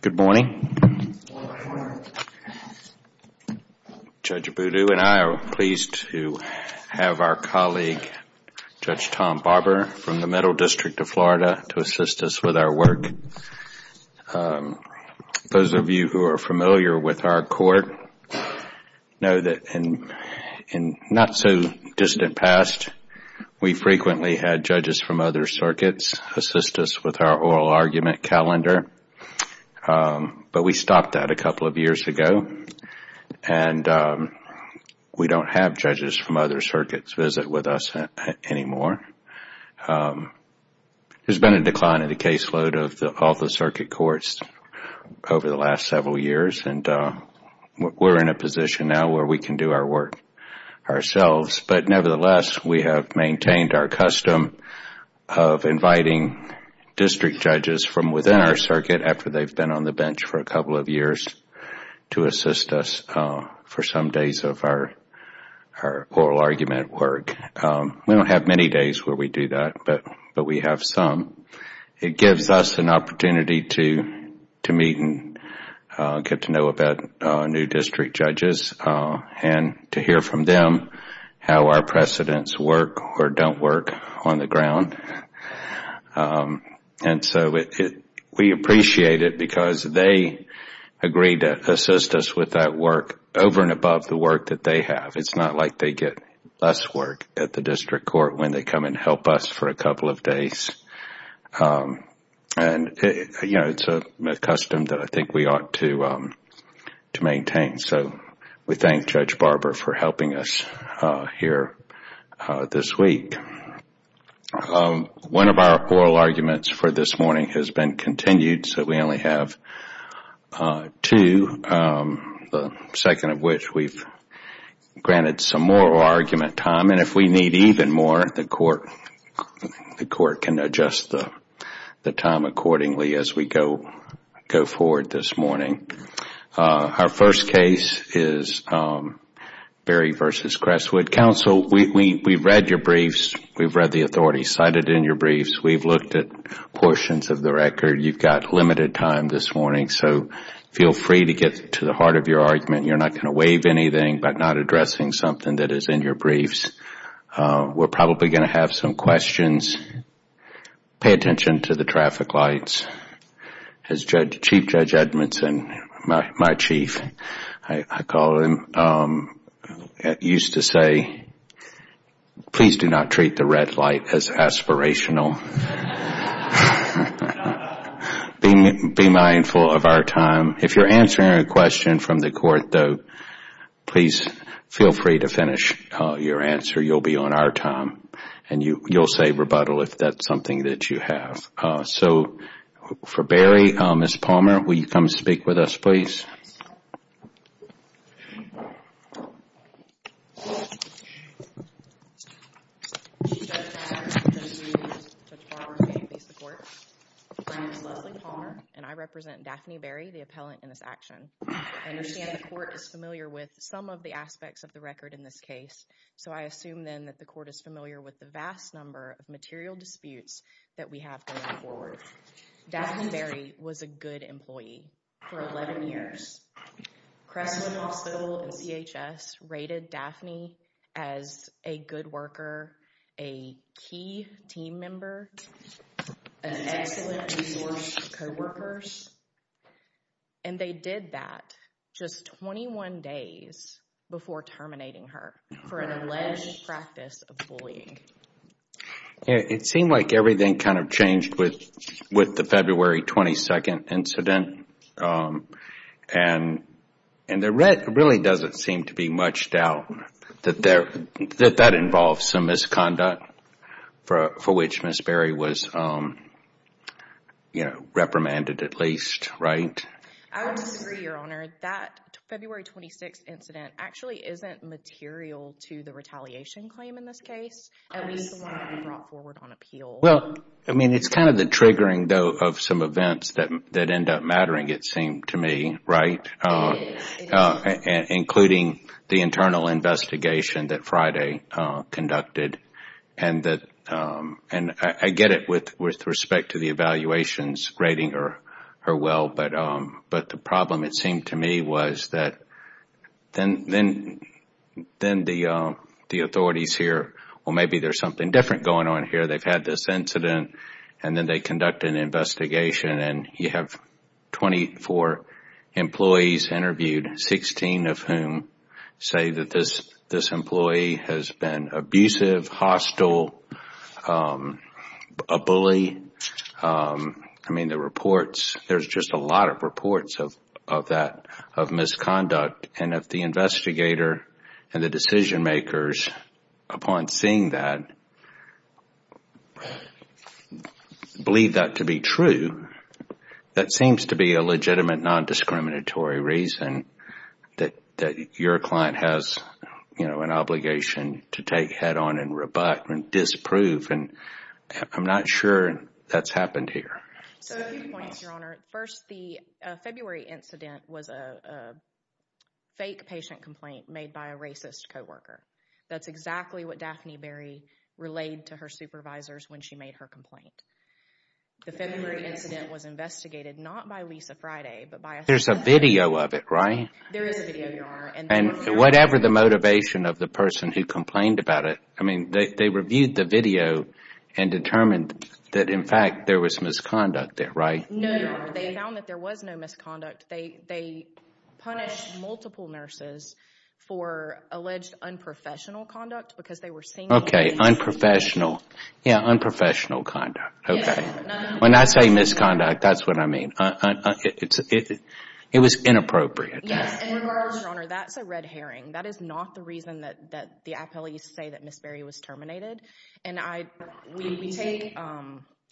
Good morning. Judge Abboudou and I are pleased to have our colleague, Judge Tom Barber from the Middle District of Florida to assist us with our work. Those of you who are familiar with our court know that in not-so-distant past, we frequently had judges from other circuits assist us with our oral argument calendar, but we stopped that a couple of years ago, and we don't have judges from other circuits visit with us anymore. There has been a decline in the caseload of all the circuit courts over the last several years and we are in a position now where we can do our work ourselves, but nevertheless, we have maintained our custom of inviting district judges from within our circuit after they have been on the bench for a couple of years to assist us for some days of our oral argument work. We don't have many days where we do that, but we have some. It gives us an opportunity to meet and get to know about new district judges and to hear from them how our precedents work or don't work on the ground. We appreciate it because they agree to assist us with that work over and above the work that they have. It's not like they get less work at the district court when they come and help us for a couple of days. It's a custom that I think we ought to maintain. We thank Judge Barber for helping us here this week. One of our oral arguments for this morning has been continued, so we only have two, the court granted some more oral argument time. If we need even more, the court can adjust the time accordingly as we go forward this morning. Our first case is Berry v. Crestwood. Counsel, we have read your briefs, we have read the authority cited in your briefs, we have looked at portions of the record. You have limited time this morning, so feel free to get to the heart of your argument. You are not going to waive anything by not addressing something that is in your briefs. We are probably going to have some questions. Pay attention to the traffic lights. Chief Judge Edmondson, my chief, I call him, used to say, please do not treat the red light as aspirational. Be mindful of our time. If you are answering a question from the court, though, please feel free to finish your answer. You will be on our time and you will say rebuttal if that is something that you have. For Berry, Ms. Palmer, will you come speak with us, please? Ms. Palmer, and I represent Daphne Berry, the appellant in this action. I understand the court is familiar with some of the aspects of the record in this case, so I assume then that the court is familiar with the vast number of material disputes that we have going forward. Daphne Berry was a good employee for 11 years. Crescent Hospital and CHS rated Daphne as a good worker, a key team member, an excellent resource to co-workers. And they did that just 21 days before terminating her for an alleged practice of bullying. It seemed like everything kind of changed with the February 22nd incident. And there really doesn't seem to be much doubt that that involves some misconduct, for which Ms. Berry was reprimanded at least, right? I would disagree, Your Honor. That February 26th incident actually isn't material to the retaliation claim in this case. At least the one that we brought forward on appeal. Well, I mean, it's kind of the triggering, though, of some events that end up mattering, it seemed to me, right? It is. Including the internal investigation that Friday conducted. And I get it with respect to the evaluations rating her well, but the problem, it seemed to me, was that then the authorities here, well, maybe there's something different going on here. They've had this incident, and then they conduct an investigation, and you have 24 employees interviewed, 16 of whom say that this employee has been abusive, hostile, a bully. I mean, the reports, there's just a lot of reports of that, of misconduct. And if the investigator and the decision makers, upon seeing that, believe that to be true, that seems to be a legitimate non-discriminatory reason that your client has an obligation to take head on and rebut and disprove. And I'm not sure that's happened here. So a few points, Your Honor. First, the February incident was a fake patient complaint made by a racist co-worker. That's exactly what Daphne Berry relayed to her supervisors when she made her complaint. The February incident was investigated not by Lisa Friday, but by— There's a video of it, right? There is a video, Your Honor. And whatever the motivation of the person who complained about it, I mean, they reviewed the video and determined that, in fact, there was misconduct there, right? No, Your Honor. They found that there was no misconduct. They punished multiple nurses for alleged unprofessional conduct because they were seeing— Okay, unprofessional. Yeah, unprofessional conduct. Okay. When I say misconduct, that's what I mean. It was inappropriate. Yes, and in regards, Your Honor, that's a red herring. That is not the reason that the appellees say that Ms. Berry was terminated. And we take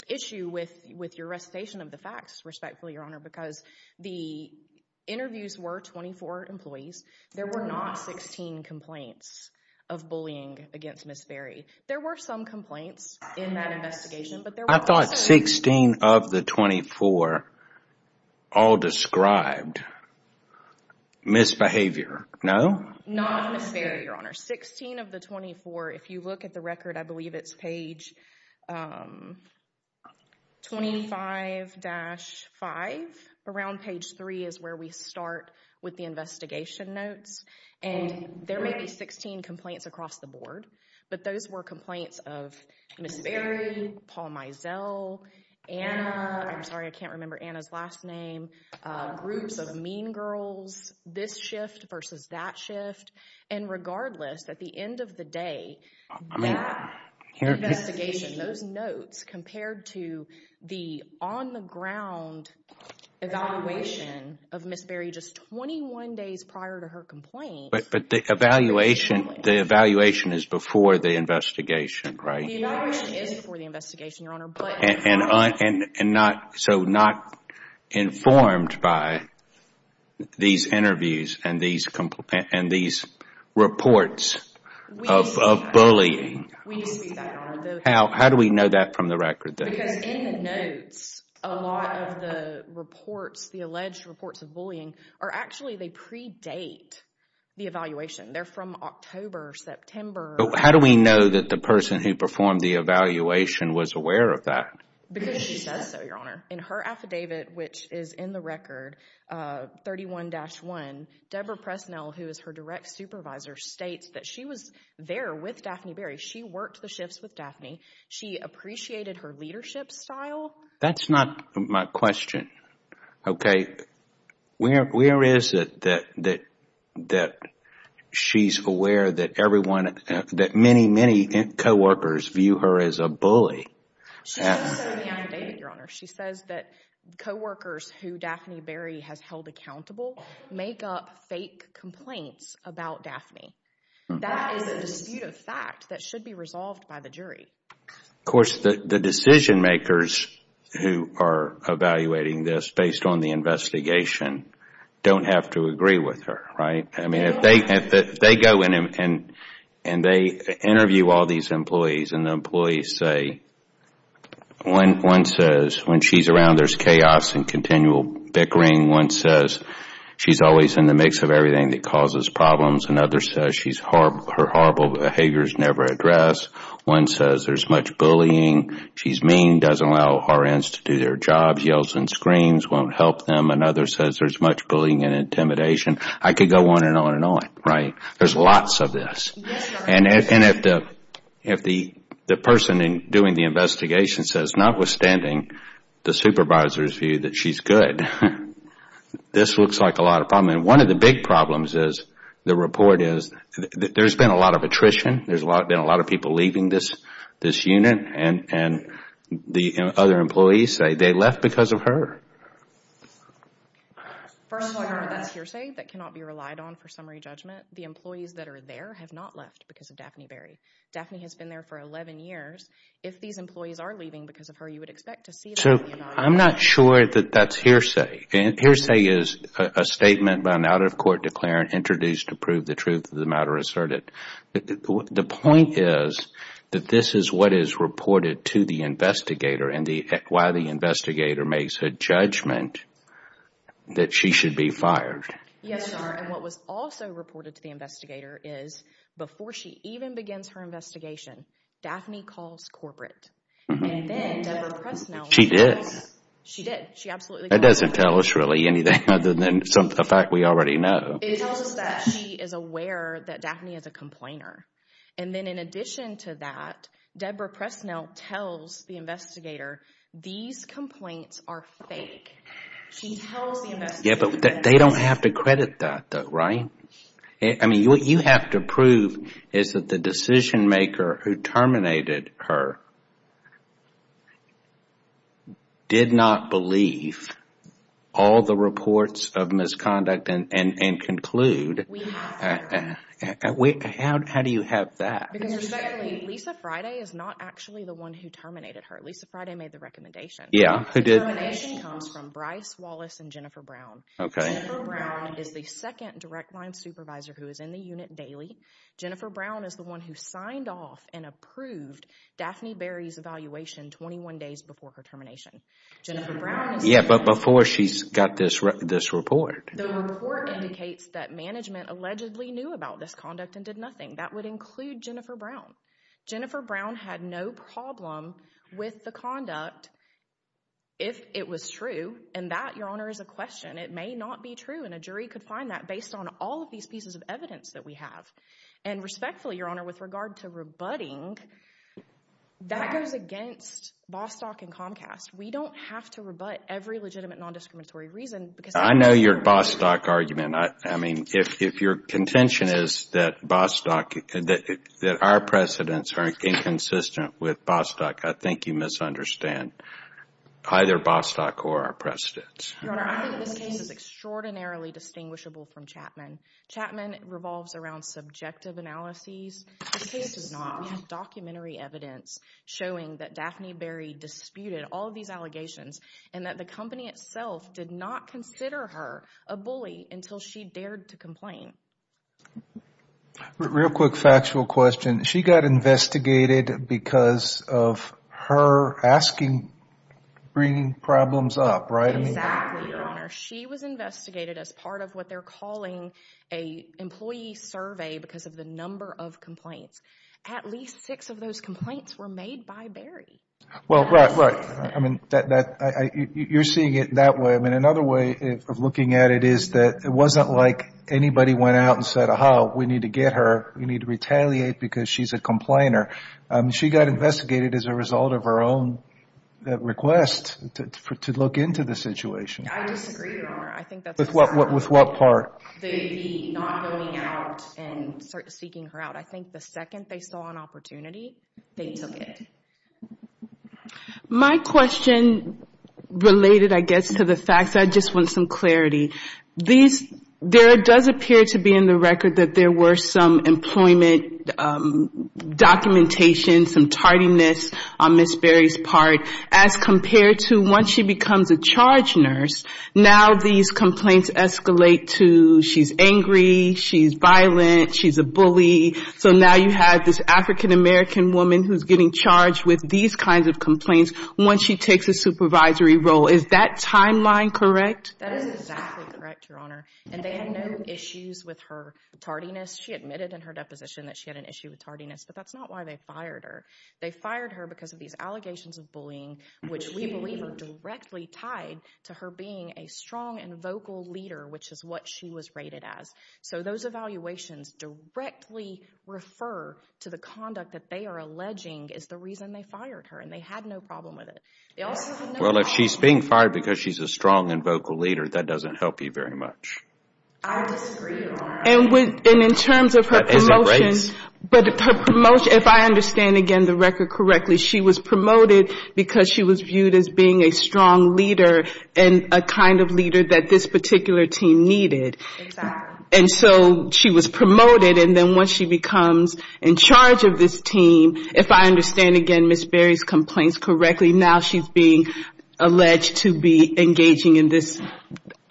issue with your recitation of the facts, respectfully, Your Honor, because the interviews were 24 employees. There were not 16 complaints of bullying against Ms. Berry. There were some complaints in that investigation, but there were also— I thought 16 of the 24 all described misbehavior, no? Not of Ms. Berry, Your Honor. 16 of the 24, if you look at the record, I believe it's page 25-5. Around page 3 is where we start with the investigation notes, but those were complaints of Ms. Berry, Paul Mizell, Anna—I'm sorry, I can't remember Anna's last name— groups of mean girls, this shift versus that shift. And regardless, at the end of the day, that investigation, those notes, compared to the on-the-ground evaluation of Ms. Berry just 21 days prior to her complaint— But the evaluation is before the investigation, right? The evaluation is before the investigation, Your Honor, but— And so not informed by these interviews and these reports of bullying. We see that, Your Honor. How do we know that from the record, though? Because in the notes, a lot of the reports, the alleged reports of bullying, are actually, they predate the evaluation. They're from October, September. How do we know that the person who performed the evaluation was aware of that? Because she says so, Your Honor. In her affidavit, which is in the record, 31-1, Deborah Presnell, who is her direct supervisor, states that she was there with Daphne Berry. She worked the shifts with Daphne. She appreciated her leadership style. That's not my question, okay? Where is it that she's aware that everyone, that many, many coworkers view her as a bully? She says so in the affidavit, Your Honor. She says that coworkers who Daphne Berry has held accountable make up fake complaints about Daphne. That is a disputed fact that should be resolved by the jury. Of course, the decision makers who are evaluating this based on the investigation don't have to agree with her, right? If they go in and they interview all these employees and the employees say, one says when she's around there's chaos and continual bickering. One says she's always in the mix of everything that causes problems. Another says her horrible behaviors never address. One says there's much bullying. She's mean, doesn't allow RNs to do their jobs, yells and screams, won't help them. Another says there's much bullying and intimidation. I could go on and on and on, right? There's lots of this. And if the person doing the investigation says, notwithstanding the supervisor's view that she's good, this looks like a lot of problems. And one of the big problems is the report is there's been a lot of attrition. There's been a lot of people leaving this unit. And the other employees say they left because of her. First of all, that's hearsay that cannot be relied on for summary judgment. The employees that are there have not left because of Daphne Berry. Daphne has been there for 11 years. If these employees are leaving because of her, you would expect to see them. I'm not sure that that's hearsay. Hearsay is a statement by an out-of-court declarant introduced to prove the truth of the matter asserted. The point is that this is what is reported to the investigator and why the investigator makes a judgment that she should be fired. Yes, sir. And what was also reported to the investigator is before she even begins her investigation, Daphne calls corporate. And then the press knows. She did. She did. She absolutely did. That doesn't tell us really anything other than the fact we already know. It tells us that she is aware that Daphne is a complainer. And then in addition to that, Debra Pressnell tells the investigator, these complaints are fake. She tells the investigator. Yeah, but they don't have to credit that though, right? I mean, what you have to prove is that the decision maker who terminated her did not believe all the reports of misconduct and conclude. How do you have that? Because respectfully, Lisa Friday is not actually the one who terminated her. Lisa Friday made the recommendation. Yeah, who did? The termination comes from Bryce Wallace and Jennifer Brown. Okay. Jennifer Brown is the second direct line supervisor who is in the unit daily. Jennifer Brown is the one who signed off and approved Daphne Berry's evaluation 21 days before her termination. Yeah, but before she got this report. The report indicates that management allegedly knew about this conduct and did nothing. That would include Jennifer Brown. Jennifer Brown had no problem with the conduct if it was true. And that, Your Honor, is a question. It may not be true. And a jury could find that based on all of these pieces of evidence that we have. And respectfully, Your Honor, with regard to rebutting, that goes against Bostock and Comcast. We don't have to rebut every legitimate non-discriminatory reason. I know your Bostock argument. I mean, if your contention is that our precedents are inconsistent with Bostock, Your Honor, I think this case is extraordinarily distinguishable from Chapman. Chapman revolves around subjective analyses. This case does not. We have documentary evidence showing that Daphne Berry disputed all of these allegations and that the company itself did not consider her a bully until she dared to complain. Real quick factual question. She got investigated because of her asking, bringing problems up, right? Exactly, Your Honor. She was investigated as part of what they're calling a employee survey because of the number of complaints. At least six of those complaints were made by Berry. Well, right, right. I mean, you're seeing it that way. I mean, another way of looking at it is that it wasn't like anybody went out and said, aha, we need to get her, we need to retaliate because she's a complainer. She got investigated as a result of her own request to look into the situation. I disagree, Your Honor. With what part? The not going out and seeking her out. I think the second they saw an opportunity, they took it. My question related, I guess, to the facts. I just want some clarity. There does appear to be in the record that there were some employment documentation, some tardiness on Ms. Berry's part as compared to once she becomes a charge nurse. Now these complaints escalate to she's angry, she's violent, she's a bully. So now you have this African-American woman who's getting charged with these kinds of complaints once she takes a supervisory role. Is that timeline correct? That is exactly correct, Your Honor. And they had no issues with her tardiness. She admitted in her deposition that she had an issue with tardiness, but that's not why they fired her. They fired her because of these allegations of bullying, which we believe are directly tied to her being a strong and vocal leader, which is what she was rated as. So those evaluations directly refer to the conduct that they are alleging is the reason they fired her, and they had no problem with it. Well, if she's being fired because she's a strong and vocal leader, that doesn't help you very much. I disagree, Your Honor. And in terms of her promotion, if I understand again the record correctly, she was promoted because she was viewed as being a strong leader and a kind of leader that this particular team needed. Exactly. And so she was promoted, and then once she becomes in charge of this team, if I understand again Ms. Berry's complaints correctly, now she's being alleged to be engaging in this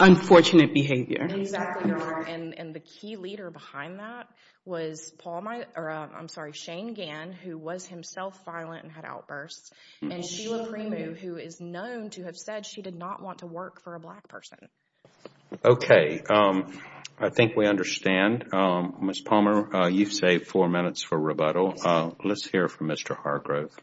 unfortunate behavior. Exactly, Your Honor. And the key leader behind that was Shane Gann, who was himself violent and had outbursts, and Sheila Premu, who is known to have said she did not want to work for a black person. Okay. I think we understand. Ms. Palmer, you've saved four minutes for rebuttal. Let's hear from Mr. Hargrove.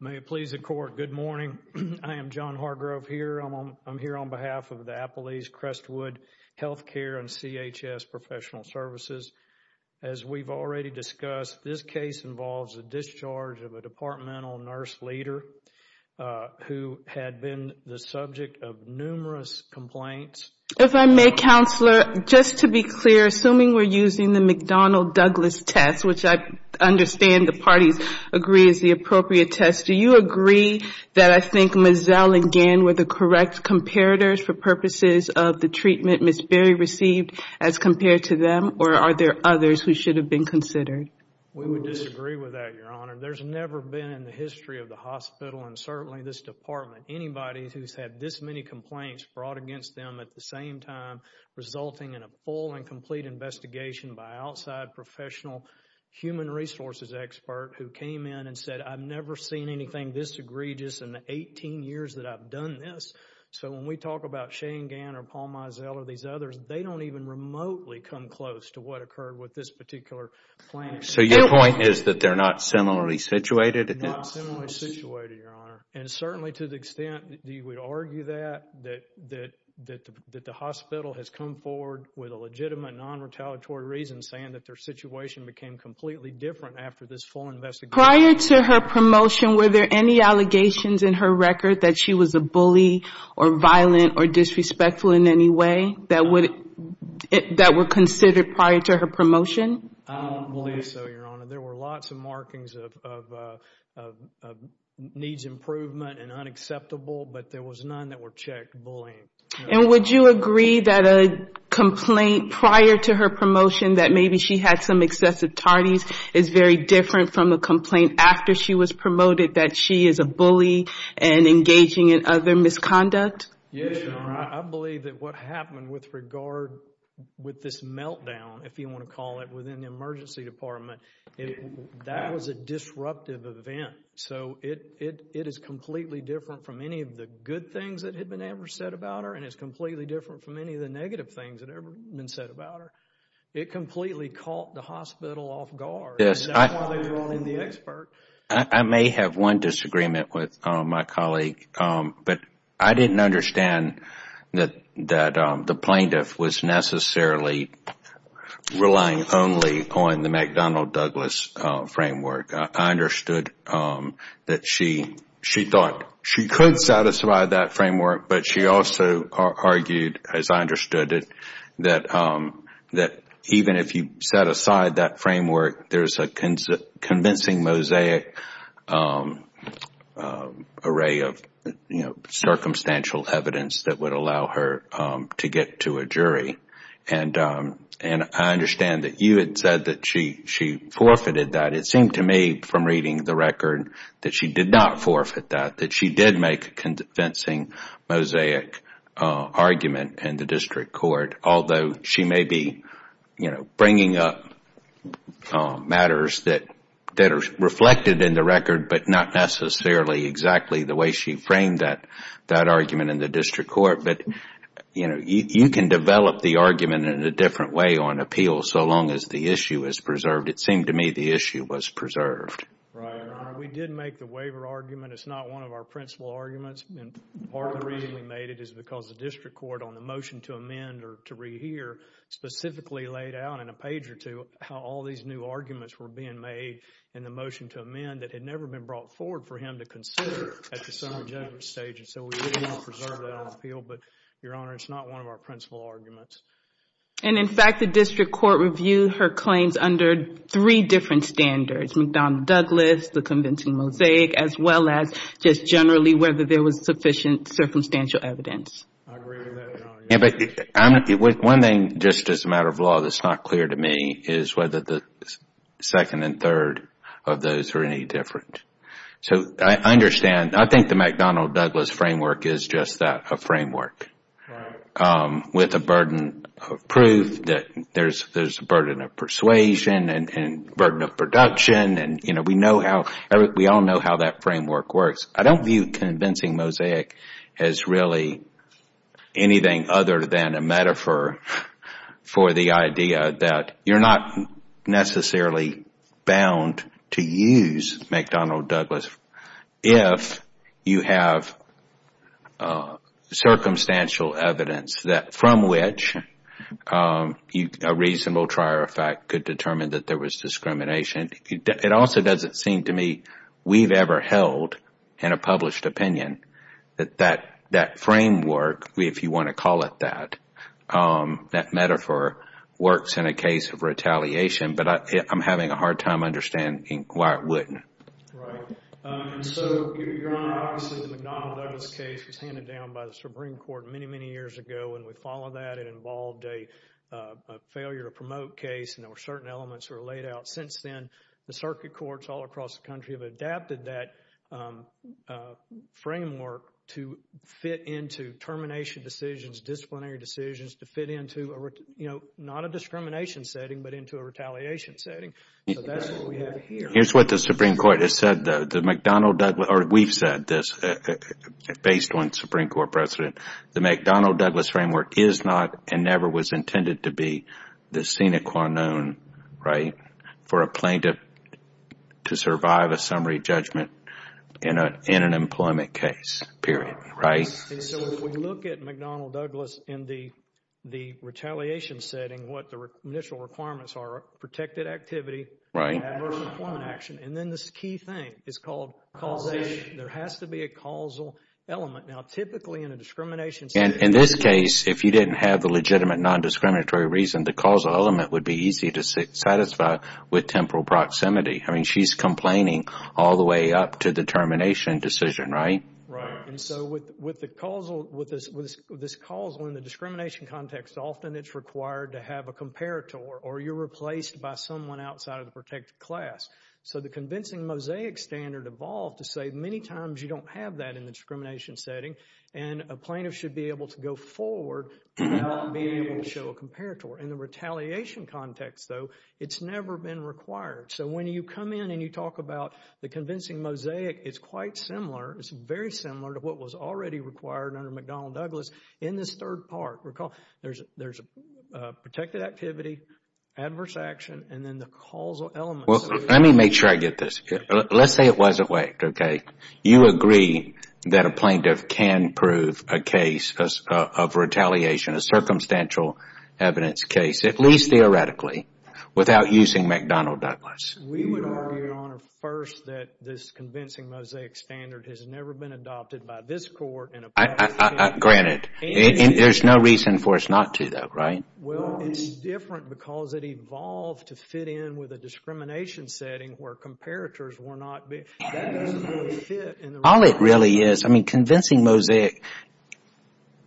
May it please the Court, good morning. I am John Hargrove here. I'm here on behalf of the Appalachian Crestwood Healthcare and CHS Professional Services. As we've already discussed, this case involves a discharge of a departmental nurse leader who had been the subject of numerous complaints. If I may, Counselor, just to be clear, assuming we're using the McDonnell-Douglas test, which I understand the parties agree is the appropriate test, do you agree that I think Ms. Zell and Gann were the correct comparators for purposes of the treatment Ms. Berry received as compared to them, or are there others who should have been considered? We would disagree with that, Your Honor. There's never been in the history of the hospital, and certainly this department, anybody who's had this many complaints brought against them at the same time, resulting in a full and complete investigation by an outside professional human resources expert who came in and said, I've never seen anything this egregious in the 18 years that I've done this. So when we talk about Shane Gann or Paul Mizell or these others, they don't even remotely come close to what occurred with this particular plant. So your point is that they're not similarly situated? They're not similarly situated, Your Honor, and certainly to the extent that you would argue that, that the hospital has come forward with a legitimate non-retaliatory reason saying that their situation became completely different after this full investigation. Prior to her promotion, were there any allegations in her record that she was a bully or violent or disrespectful in any way that were considered prior to her promotion? I don't believe so, Your Honor. There were lots of markings of needs improvement and unacceptable, but there was none that were checked bullying. And would you agree that a complaint prior to her promotion that maybe she had some excessive tardies is very different from a complaint after she was promoted that she is a bully and engaging in other misconduct? Yes, Your Honor. I believe that what happened with regard with this meltdown, if you want to call it, within the emergency department, that was a disruptive event. So it is completely different from any of the good things that had been ever said about her and it's completely different from any of the negative things that had ever been said about her. It completely caught the hospital off guard. Yes. I may have one disagreement with my colleague, but I didn't understand that the plaintiff was necessarily relying only on the McDonnell-Douglas framework. I understood that she thought she could satisfy that framework, but she also argued, as I understood it, that even if you set aside that framework, there is a convincing mosaic array of circumstantial evidence that would allow her to get to a jury. And I understand that you had said that she forfeited that. It seemed to me from reading the record that she did not forfeit that, that she did make a convincing mosaic argument in the district court, although she may be bringing up matters that are reflected in the record, but not necessarily exactly the way she framed that argument in the district court. But you can develop the argument in a different way on appeal so long as the issue is preserved. It seemed to me the issue was preserved. We did make the waiver argument. It's not one of our principal arguments. Part of the reason we made it is because the district court on the motion to amend or to rehear specifically laid out in a page or two how all these new arguments were being made in the motion to amend that had never been brought forward for him to consider at the summary judgment stage. And so we did want to preserve that on appeal, but, Your Honor, it's not one of our principal arguments. And, in fact, the district court reviewed her claims under three different standards, McDonald-Douglas, the convincing mosaic, as well as just generally whether there was sufficient circumstantial evidence. I agree with that, Your Honor. One thing, just as a matter of law, that's not clear to me is whether the second and third of those are any different. So I understand. I think the McDonald-Douglas framework is just that, a framework, with a burden of proof that there's a burden of persuasion and burden of production. We all know how that framework works. I don't view convincing mosaic as really anything other than a metaphor for the idea that you're not necessarily bound to use McDonald-Douglas if you have circumstantial evidence from which a reasonable trier of fact could determine that there was discrimination. It also doesn't seem to me we've ever held in a published opinion that that framework, if you want to call it that, that metaphor works in a case of retaliation, but I'm having a hard time understanding why it wouldn't. Right. And so, Your Honor, obviously the McDonald-Douglas case was handed down by the Supreme Court many, many years ago, and we followed that. It involved a failure to promote case, and there were certain elements that were laid out. Since then, the circuit courts all across the country have adapted that framework to fit into termination decisions, disciplinary decisions, to fit into not a discrimination setting but into a retaliation setting. So that's what we have here. Here's what the Supreme Court has said, though. The McDonald-Douglas, or we've said this, based on Supreme Court precedent, the McDonald-Douglas framework is not and never was intended to be the sine qua non, right, for a plaintiff to survive a summary judgment in an employment case, period, right? And so if we look at McDonald-Douglas in the retaliation setting, what the initial requirements are, protected activity, adverse employment action, and then this key thing is called causation. There has to be a causal element. Now, typically in a discrimination setting— In this case, if you didn't have the legitimate nondiscriminatory reason, the causal element would be easy to satisfy with temporal proximity. I mean, she's complaining all the way up to the termination decision, right? Right. And so with this causal in the discrimination context, often it's required to have a comparator or you're replaced by someone outside of the protected class. So the convincing mosaic standard evolved to say many times you don't have that in the discrimination setting and a plaintiff should be able to go forward and not be able to show a comparator. In the retaliation context, though, it's never been required. So when you come in and you talk about the convincing mosaic, it's quite similar. It's very similar to what was already required under McDonnell Douglas in this third part. There's protected activity, adverse action, and then the causal elements. Let me make sure I get this. Let's say it wasn't whacked, okay? You agree that a plaintiff can prove a case of retaliation, a circumstantial evidence case, at least theoretically, without using McDonnell Douglas. We would argue, Your Honor, first that this convincing mosaic standard has never been adopted by this court. Granted. There's no reason for us not to, though, right? Well, it's different because it evolved to fit in with a discrimination setting where comparators were not. All it really is, I mean, convincing mosaic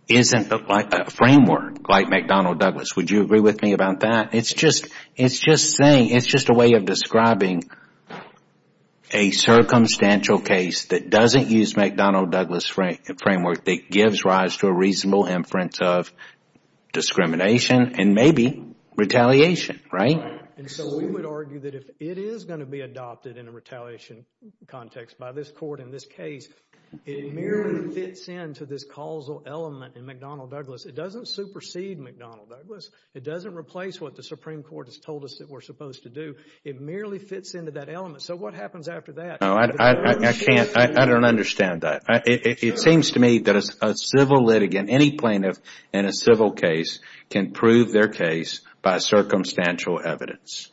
isn't like a framework like McDonnell Douglas. Would you agree with me about that? It's just a way of describing a circumstantial case that doesn't use McDonnell Douglas framework that gives rise to a reasonable inference of discrimination and maybe retaliation, right? And so we would argue that if it is going to be adopted in a retaliation context by this court in this case, it merely fits into this causal element in McDonnell Douglas. It doesn't supersede McDonnell Douglas. It doesn't replace what the Supreme Court has told us that we're supposed to do. It merely fits into that element. So what happens after that? No, I can't. I don't understand that. It seems to me that a civil litigant, any plaintiff in a civil case can prove their case by circumstantial evidence.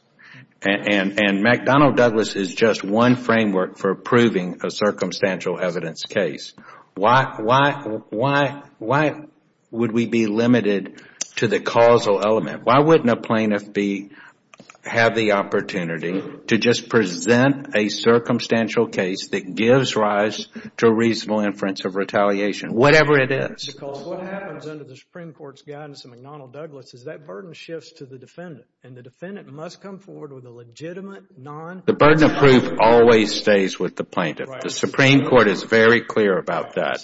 And McDonnell Douglas is just one framework for proving a circumstantial evidence case. Why would we be limited to the causal element? Why wouldn't a plaintiff have the opportunity to just present a circumstantial case that gives rise to a reasonable inference of retaliation? Whatever it is. Because what happens under the Supreme Court's guidance in McDonnell Douglas is that burden shifts to the defendant. And the defendant must come forward with a legitimate non- The burden of proof always stays with the plaintiff. The Supreme Court is very clear about that.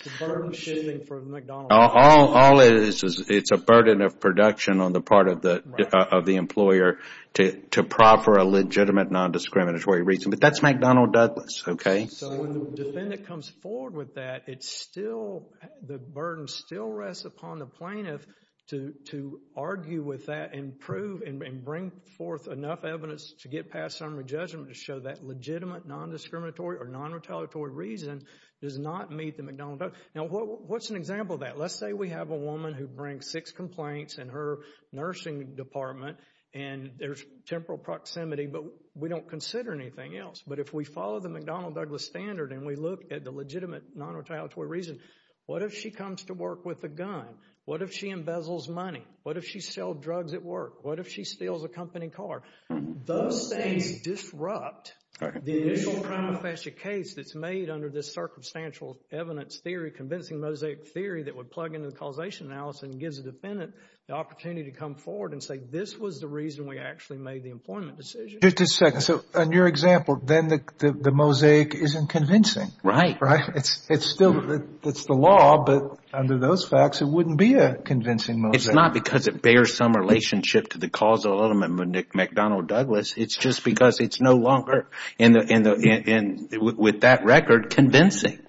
All it is, it's a burden of production on the part of the employer to proffer a legitimate non-discriminatory reason. But that's McDonnell Douglas, okay? So when the defendant comes forward with that, it's still, the burden still rests upon the plaintiff to argue with that and prove and bring forth enough evidence to get past summary judgment to show that legitimate non-discriminatory or non-retaliatory reason does not meet the McDonnell Douglas. Now, what's an example of that? Let's say we have a woman who brings six complaints in her nursing department and there's temporal proximity, but we don't consider anything else. But if we follow the McDonnell Douglas standard and we look at the legitimate non-retaliatory reason, what if she comes to work with a gun? What if she embezzles money? What if she sells drugs at work? What if she steals a company car? Those things disrupt the initial prima facie case that's made under this circumstantial evidence theory, convincing mosaic theory that would plug into the causation analysis and gives the defendant the opportunity to come forward and say, this was the reason we actually made the employment decision. Just a second. So in your example, then the mosaic isn't convincing. Right. Right. It's still, it's the law, but under those facts, it wouldn't be a convincing mosaic. It's not because it bears some relationship to the causal element McDonnell Douglas. It's just because it's no longer, with that record, convincing.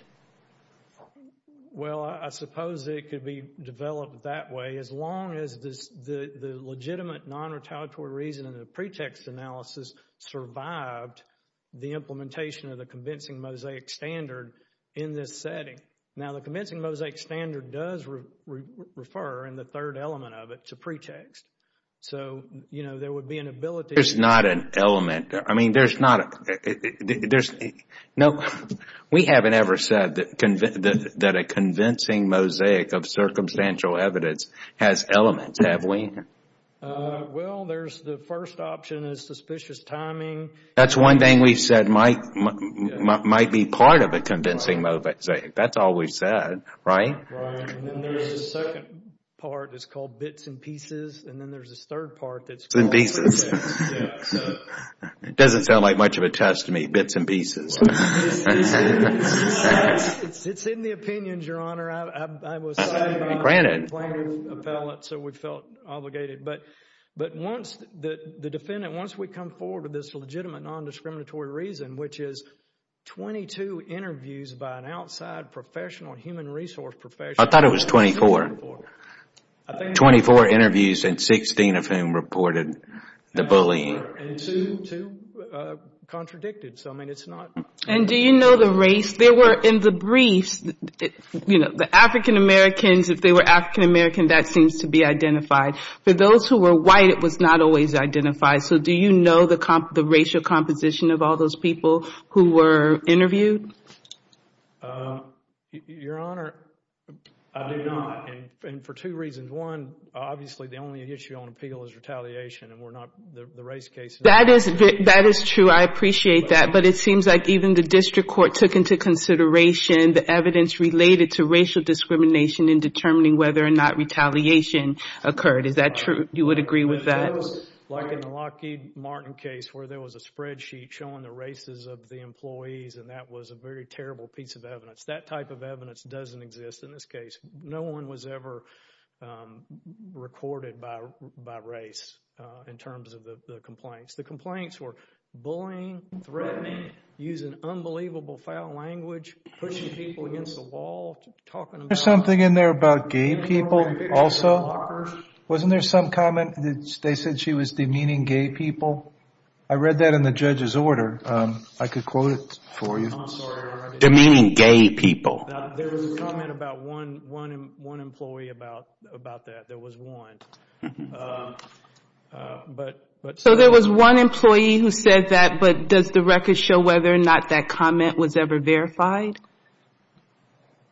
Well, I suppose it could be developed that way. As long as the legitimate non-retaliatory reason and the pretext analysis survived, the implementation of the convincing mosaic standard in this setting. Now, the convincing mosaic standard does refer, in the third element of it, to pretext. So, you know, there would be an ability. There's not an element. I mean, there's not a, there's, no, we haven't ever said that a convincing mosaic of circumstantial evidence has elements, have we? Well, there's the first option is suspicious timing. That's one thing we've said might be part of a convincing mosaic. That's all we've said, right? Right. And then there's a second part that's called bits and pieces. And then there's this third part that's called pretext. Bits and pieces. Yeah, so. It doesn't sound like much of a test to me. Bits and pieces. It's in the opinions, Your Honor. Granted. So we felt obligated. But once the defendant, once we come forward with this legitimate non-discriminatory reason, which is 22 interviews by an outside professional, human resource professional. I thought it was 24. 24 interviews and 16 of whom reported the bullying. And two contradicted. So, I mean, it's not. And do you know the race? If they were in the briefs, you know, the African-Americans, if they were African-American, that seems to be identified. For those who were white, it was not always identified. So do you know the racial composition of all those people who were interviewed? Your Honor, I do not. And for two reasons. One, obviously, the only issue on appeal is retaliation. And we're not. The race case. That is true. I appreciate that. But it seems like even the district court took into consideration the evidence related to racial discrimination in determining whether or not retaliation occurred. Is that true? You would agree with that? Like in the Lockheed Martin case where there was a spreadsheet showing the races of the employees and that was a very terrible piece of evidence. That type of evidence doesn't exist in this case. No one was ever recorded by race in terms of the complaints. The complaints were bullying, threatening, using unbelievable foul language, pushing people against the wall. There's something in there about gay people also. Wasn't there some comment that they said she was demeaning gay people? I read that in the judge's order. I could quote it for you. Demeaning gay people. There was a comment about one employee about that. There was one. So there was one employee who said that, but does the record show whether or not that comment was ever verified?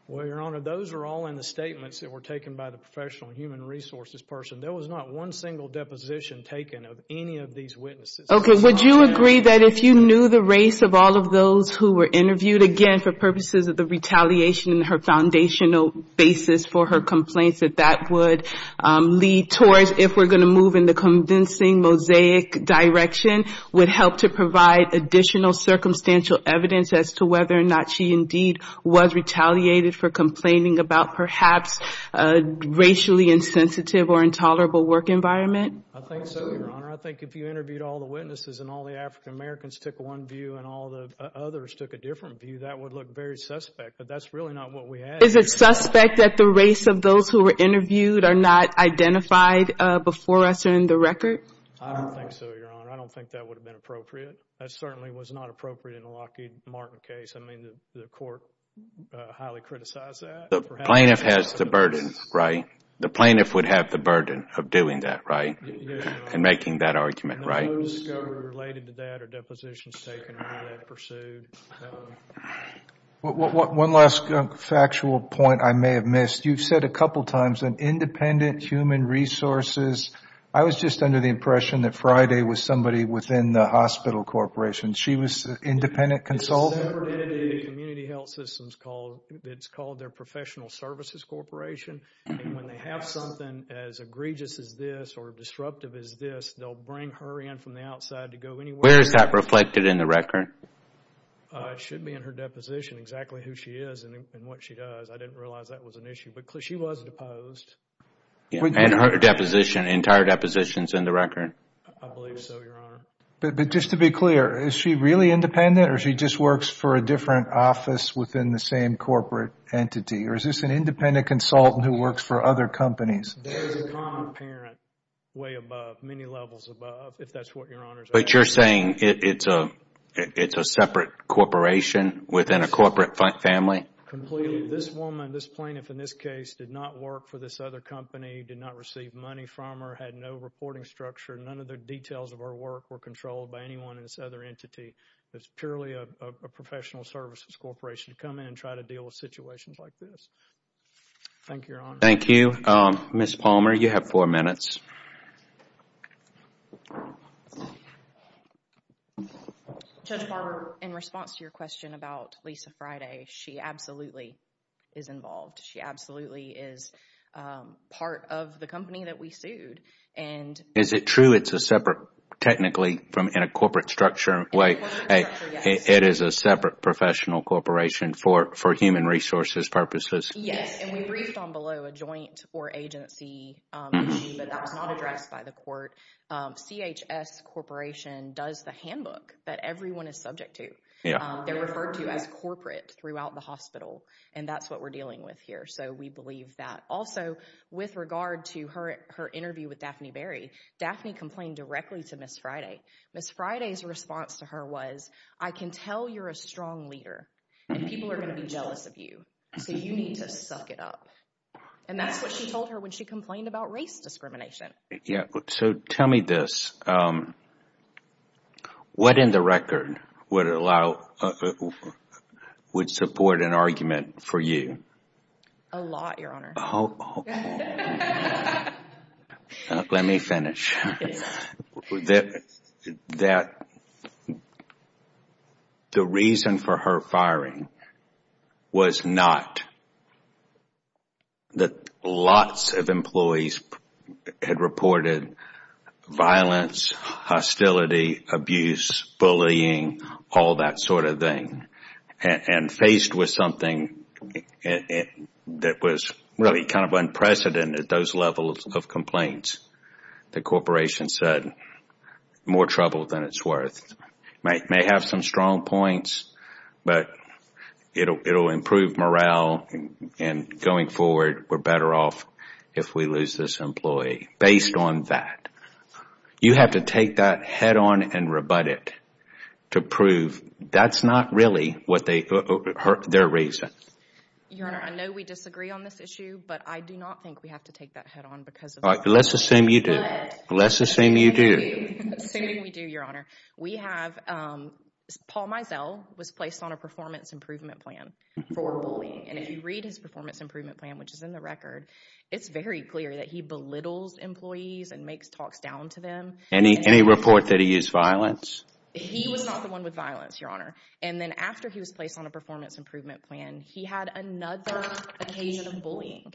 Well, Your Honor, those are all in the statements that were taken by the professional human resources person. There was not one single deposition taken of any of these witnesses. Okay. Would you agree that if you knew the race of all of those who were interviewed, again, for purposes of the retaliation in her foundational basis for her complaints, that that would lead towards, if we're going to move in the convincing mosaic direction, would help to provide additional circumstantial evidence as to whether or not she indeed was retaliated for complaining about perhaps a racially insensitive or intolerable work environment? I think so, Your Honor. I think if you interviewed all the witnesses and all the African Americans took one view and all the others took a different view, that would look very suspect. But that's really not what we had here. Is it suspect that the race of those who were interviewed are not identified before us or in the record? I don't think so, Your Honor. I don't think that would have been appropriate. That certainly was not appropriate in the Lockheed Martin case. I mean, the court highly criticized that. The plaintiff has the burden, right? The plaintiff would have the burden of doing that, right, and making that argument, right? And those that are related to that are depositions taken or that pursued. One last factual point I may have missed. You've said a couple times an independent human resources. I was just under the impression that Friday was somebody within the hospital corporation. She was an independent consultant? It's a separate entity in the community health system. It's called their professional services corporation. And when they have something as egregious as this or disruptive as this, they'll bring her in from the outside to go anywhere. Where is that reflected in the record? It should be in her deposition, exactly who she is and what she does. I didn't realize that was an issue. But she was deposed. And her entire deposition is in the record? I believe so, Your Honor. But just to be clear, is she really independent or she just works for a different office within the same corporate entity? Or is this an independent consultant who works for other companies? There is a common parent way above, many levels above, if that's what Your Honor is asking. But you're saying it's a separate corporation within a corporate family? Completely. This woman, this plaintiff in this case, did not work for this other company, did not receive money from her, had no reporting structure. None of the details of her work were controlled by anyone in this other entity. It's purely a professional services corporation to come in and try to deal with situations like this. Thank you, Your Honor. Thank you. Ms. Palmer, you have four minutes. Judge Barber, in response to your question about Lisa Friday, she absolutely is involved. She absolutely is part of the company that we sued. Is it true it's a separate, technically, in a corporate structure? In a corporate structure, yes. It is a separate professional corporation for human resources purposes? Yes, and we briefed on below a joint or agency issue, but that was not addressed by the court. CHS Corporation does the handbook that everyone is subject to. They're referred to as corporate throughout the hospital, and that's what we're dealing with here, so we believe that. Also, with regard to her interview with Daphne Berry, Daphne complained directly to Ms. Friday. Ms. Friday's response to her was, I can tell you're a strong leader, and people are going to be jealous of you, so you need to suck it up. And that's what she told her when she complained about race discrimination. So tell me this. What in the record would support an argument for you? A lot, Your Honor. Oh. Let me finish. That the reason for her firing was not that lots of employees had reported violence, hostility, abuse, bullying, all that sort of thing, and faced with something that was really kind of unprecedented, those levels of complaints. The Corporation said, more trouble than it's worth. May have some strong points, but it will improve morale, and going forward we're better off if we lose this employee. Based on that. You have to take that head on and rebut it to prove that's not really their reason. Your Honor, I know we disagree on this issue, but I do not think we have to take that head on because of that. Let's assume you do. Good. Let's assume you do. Assuming we do, Your Honor. We have Paul Mizell was placed on a performance improvement plan for bullying, and if you read his performance improvement plan, which is in the record, it's very clear that he belittles employees and makes talks down to them. Any report that he used violence? He was not the one with violence, Your Honor. And then after he was placed on a performance improvement plan, he had another occasion of bullying.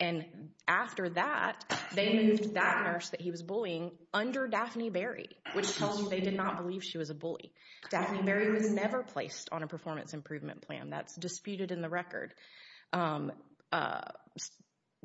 And after that, they moved that nurse that he was bullying under Daphne Berry, which tells you they did not believe she was a bully. Daphne Berry was never placed on a performance improvement plan. That's disputed in the record.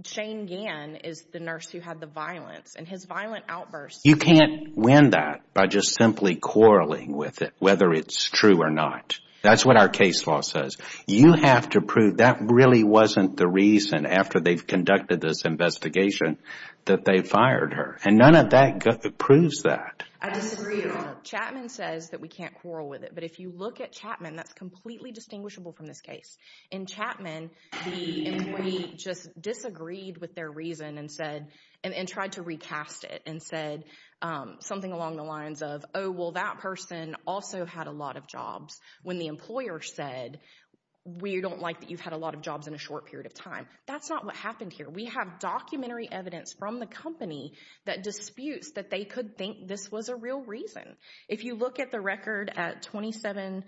Shane Gann is the nurse who had the violence, and his violent outbursts. You can't win that by just simply quarreling with it, whether it's true or not. That's what our case law says. You have to prove that really wasn't the reason, after they've conducted this investigation, that they fired her. And none of that proves that. I disagree, Your Honor. Chapman says that we can't quarrel with it. But if you look at Chapman, that's completely distinguishable from this case. In Chapman, the employee just disagreed with their reason and tried to recast it and said something along the lines of, oh, well, that person also had a lot of jobs. When the employer said, we don't like that you've had a lot of jobs in a short period of time. That's not what happened here. We have documentary evidence from the company that disputes that they could think this was a real reason. If you look at the record at 27-28,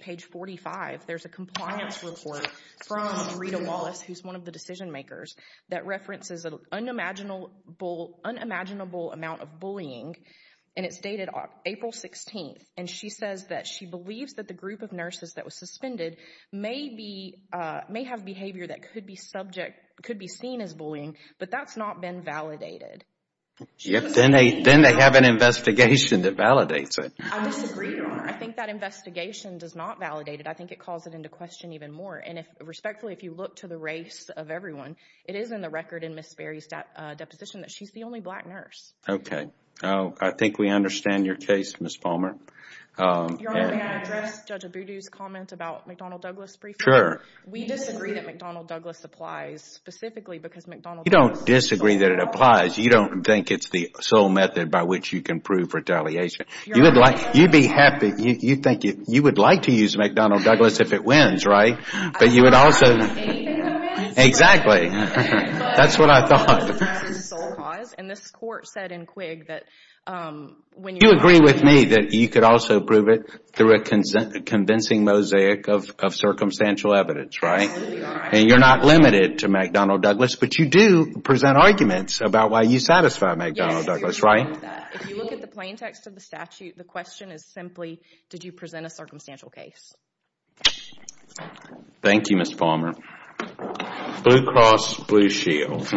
page 45, there's a compliance report from Rita Wallace, who's one of the decision makers, that references an unimaginable amount of bullying, and it's dated April 16th. And she says that she believes that the group of nurses that was suspended may have behavior that could be seen as bullying, but that's not been validated. Then they have an investigation that validates it. I disagree, Your Honor. I think that investigation does not validate it. I think it calls it into question even more. And respectfully, if you look to the race of everyone, it is in the record in Ms. Berry's deposition that she's the only black nurse. Okay. I think we understand your case, Ms. Palmer. Your Honor, may I address Judge Abudu's comment about McDonnell Douglas briefly? Sure. We disagree that McDonnell Douglas applies specifically because McDonnell Douglas is a sole cause. You don't disagree that it applies. You don't think it's the sole method by which you can prove retaliation. You'd be happy. You'd think you would like to use McDonnell Douglas if it wins, right? But you would also— I don't have anything to say. Exactly. That's what I thought. And this court said in Quigg that— You agree with me that you could also prove it through a convincing mosaic of circumstantial evidence, right? And you're not limited to McDonnell Douglas, but you do present arguments about why you satisfy McDonnell Douglas, right? If you look at the plain text of the statute, the question is simply, did you present a circumstantial case? Thank you, Ms. Palmer. Blue Cross Blue Shield.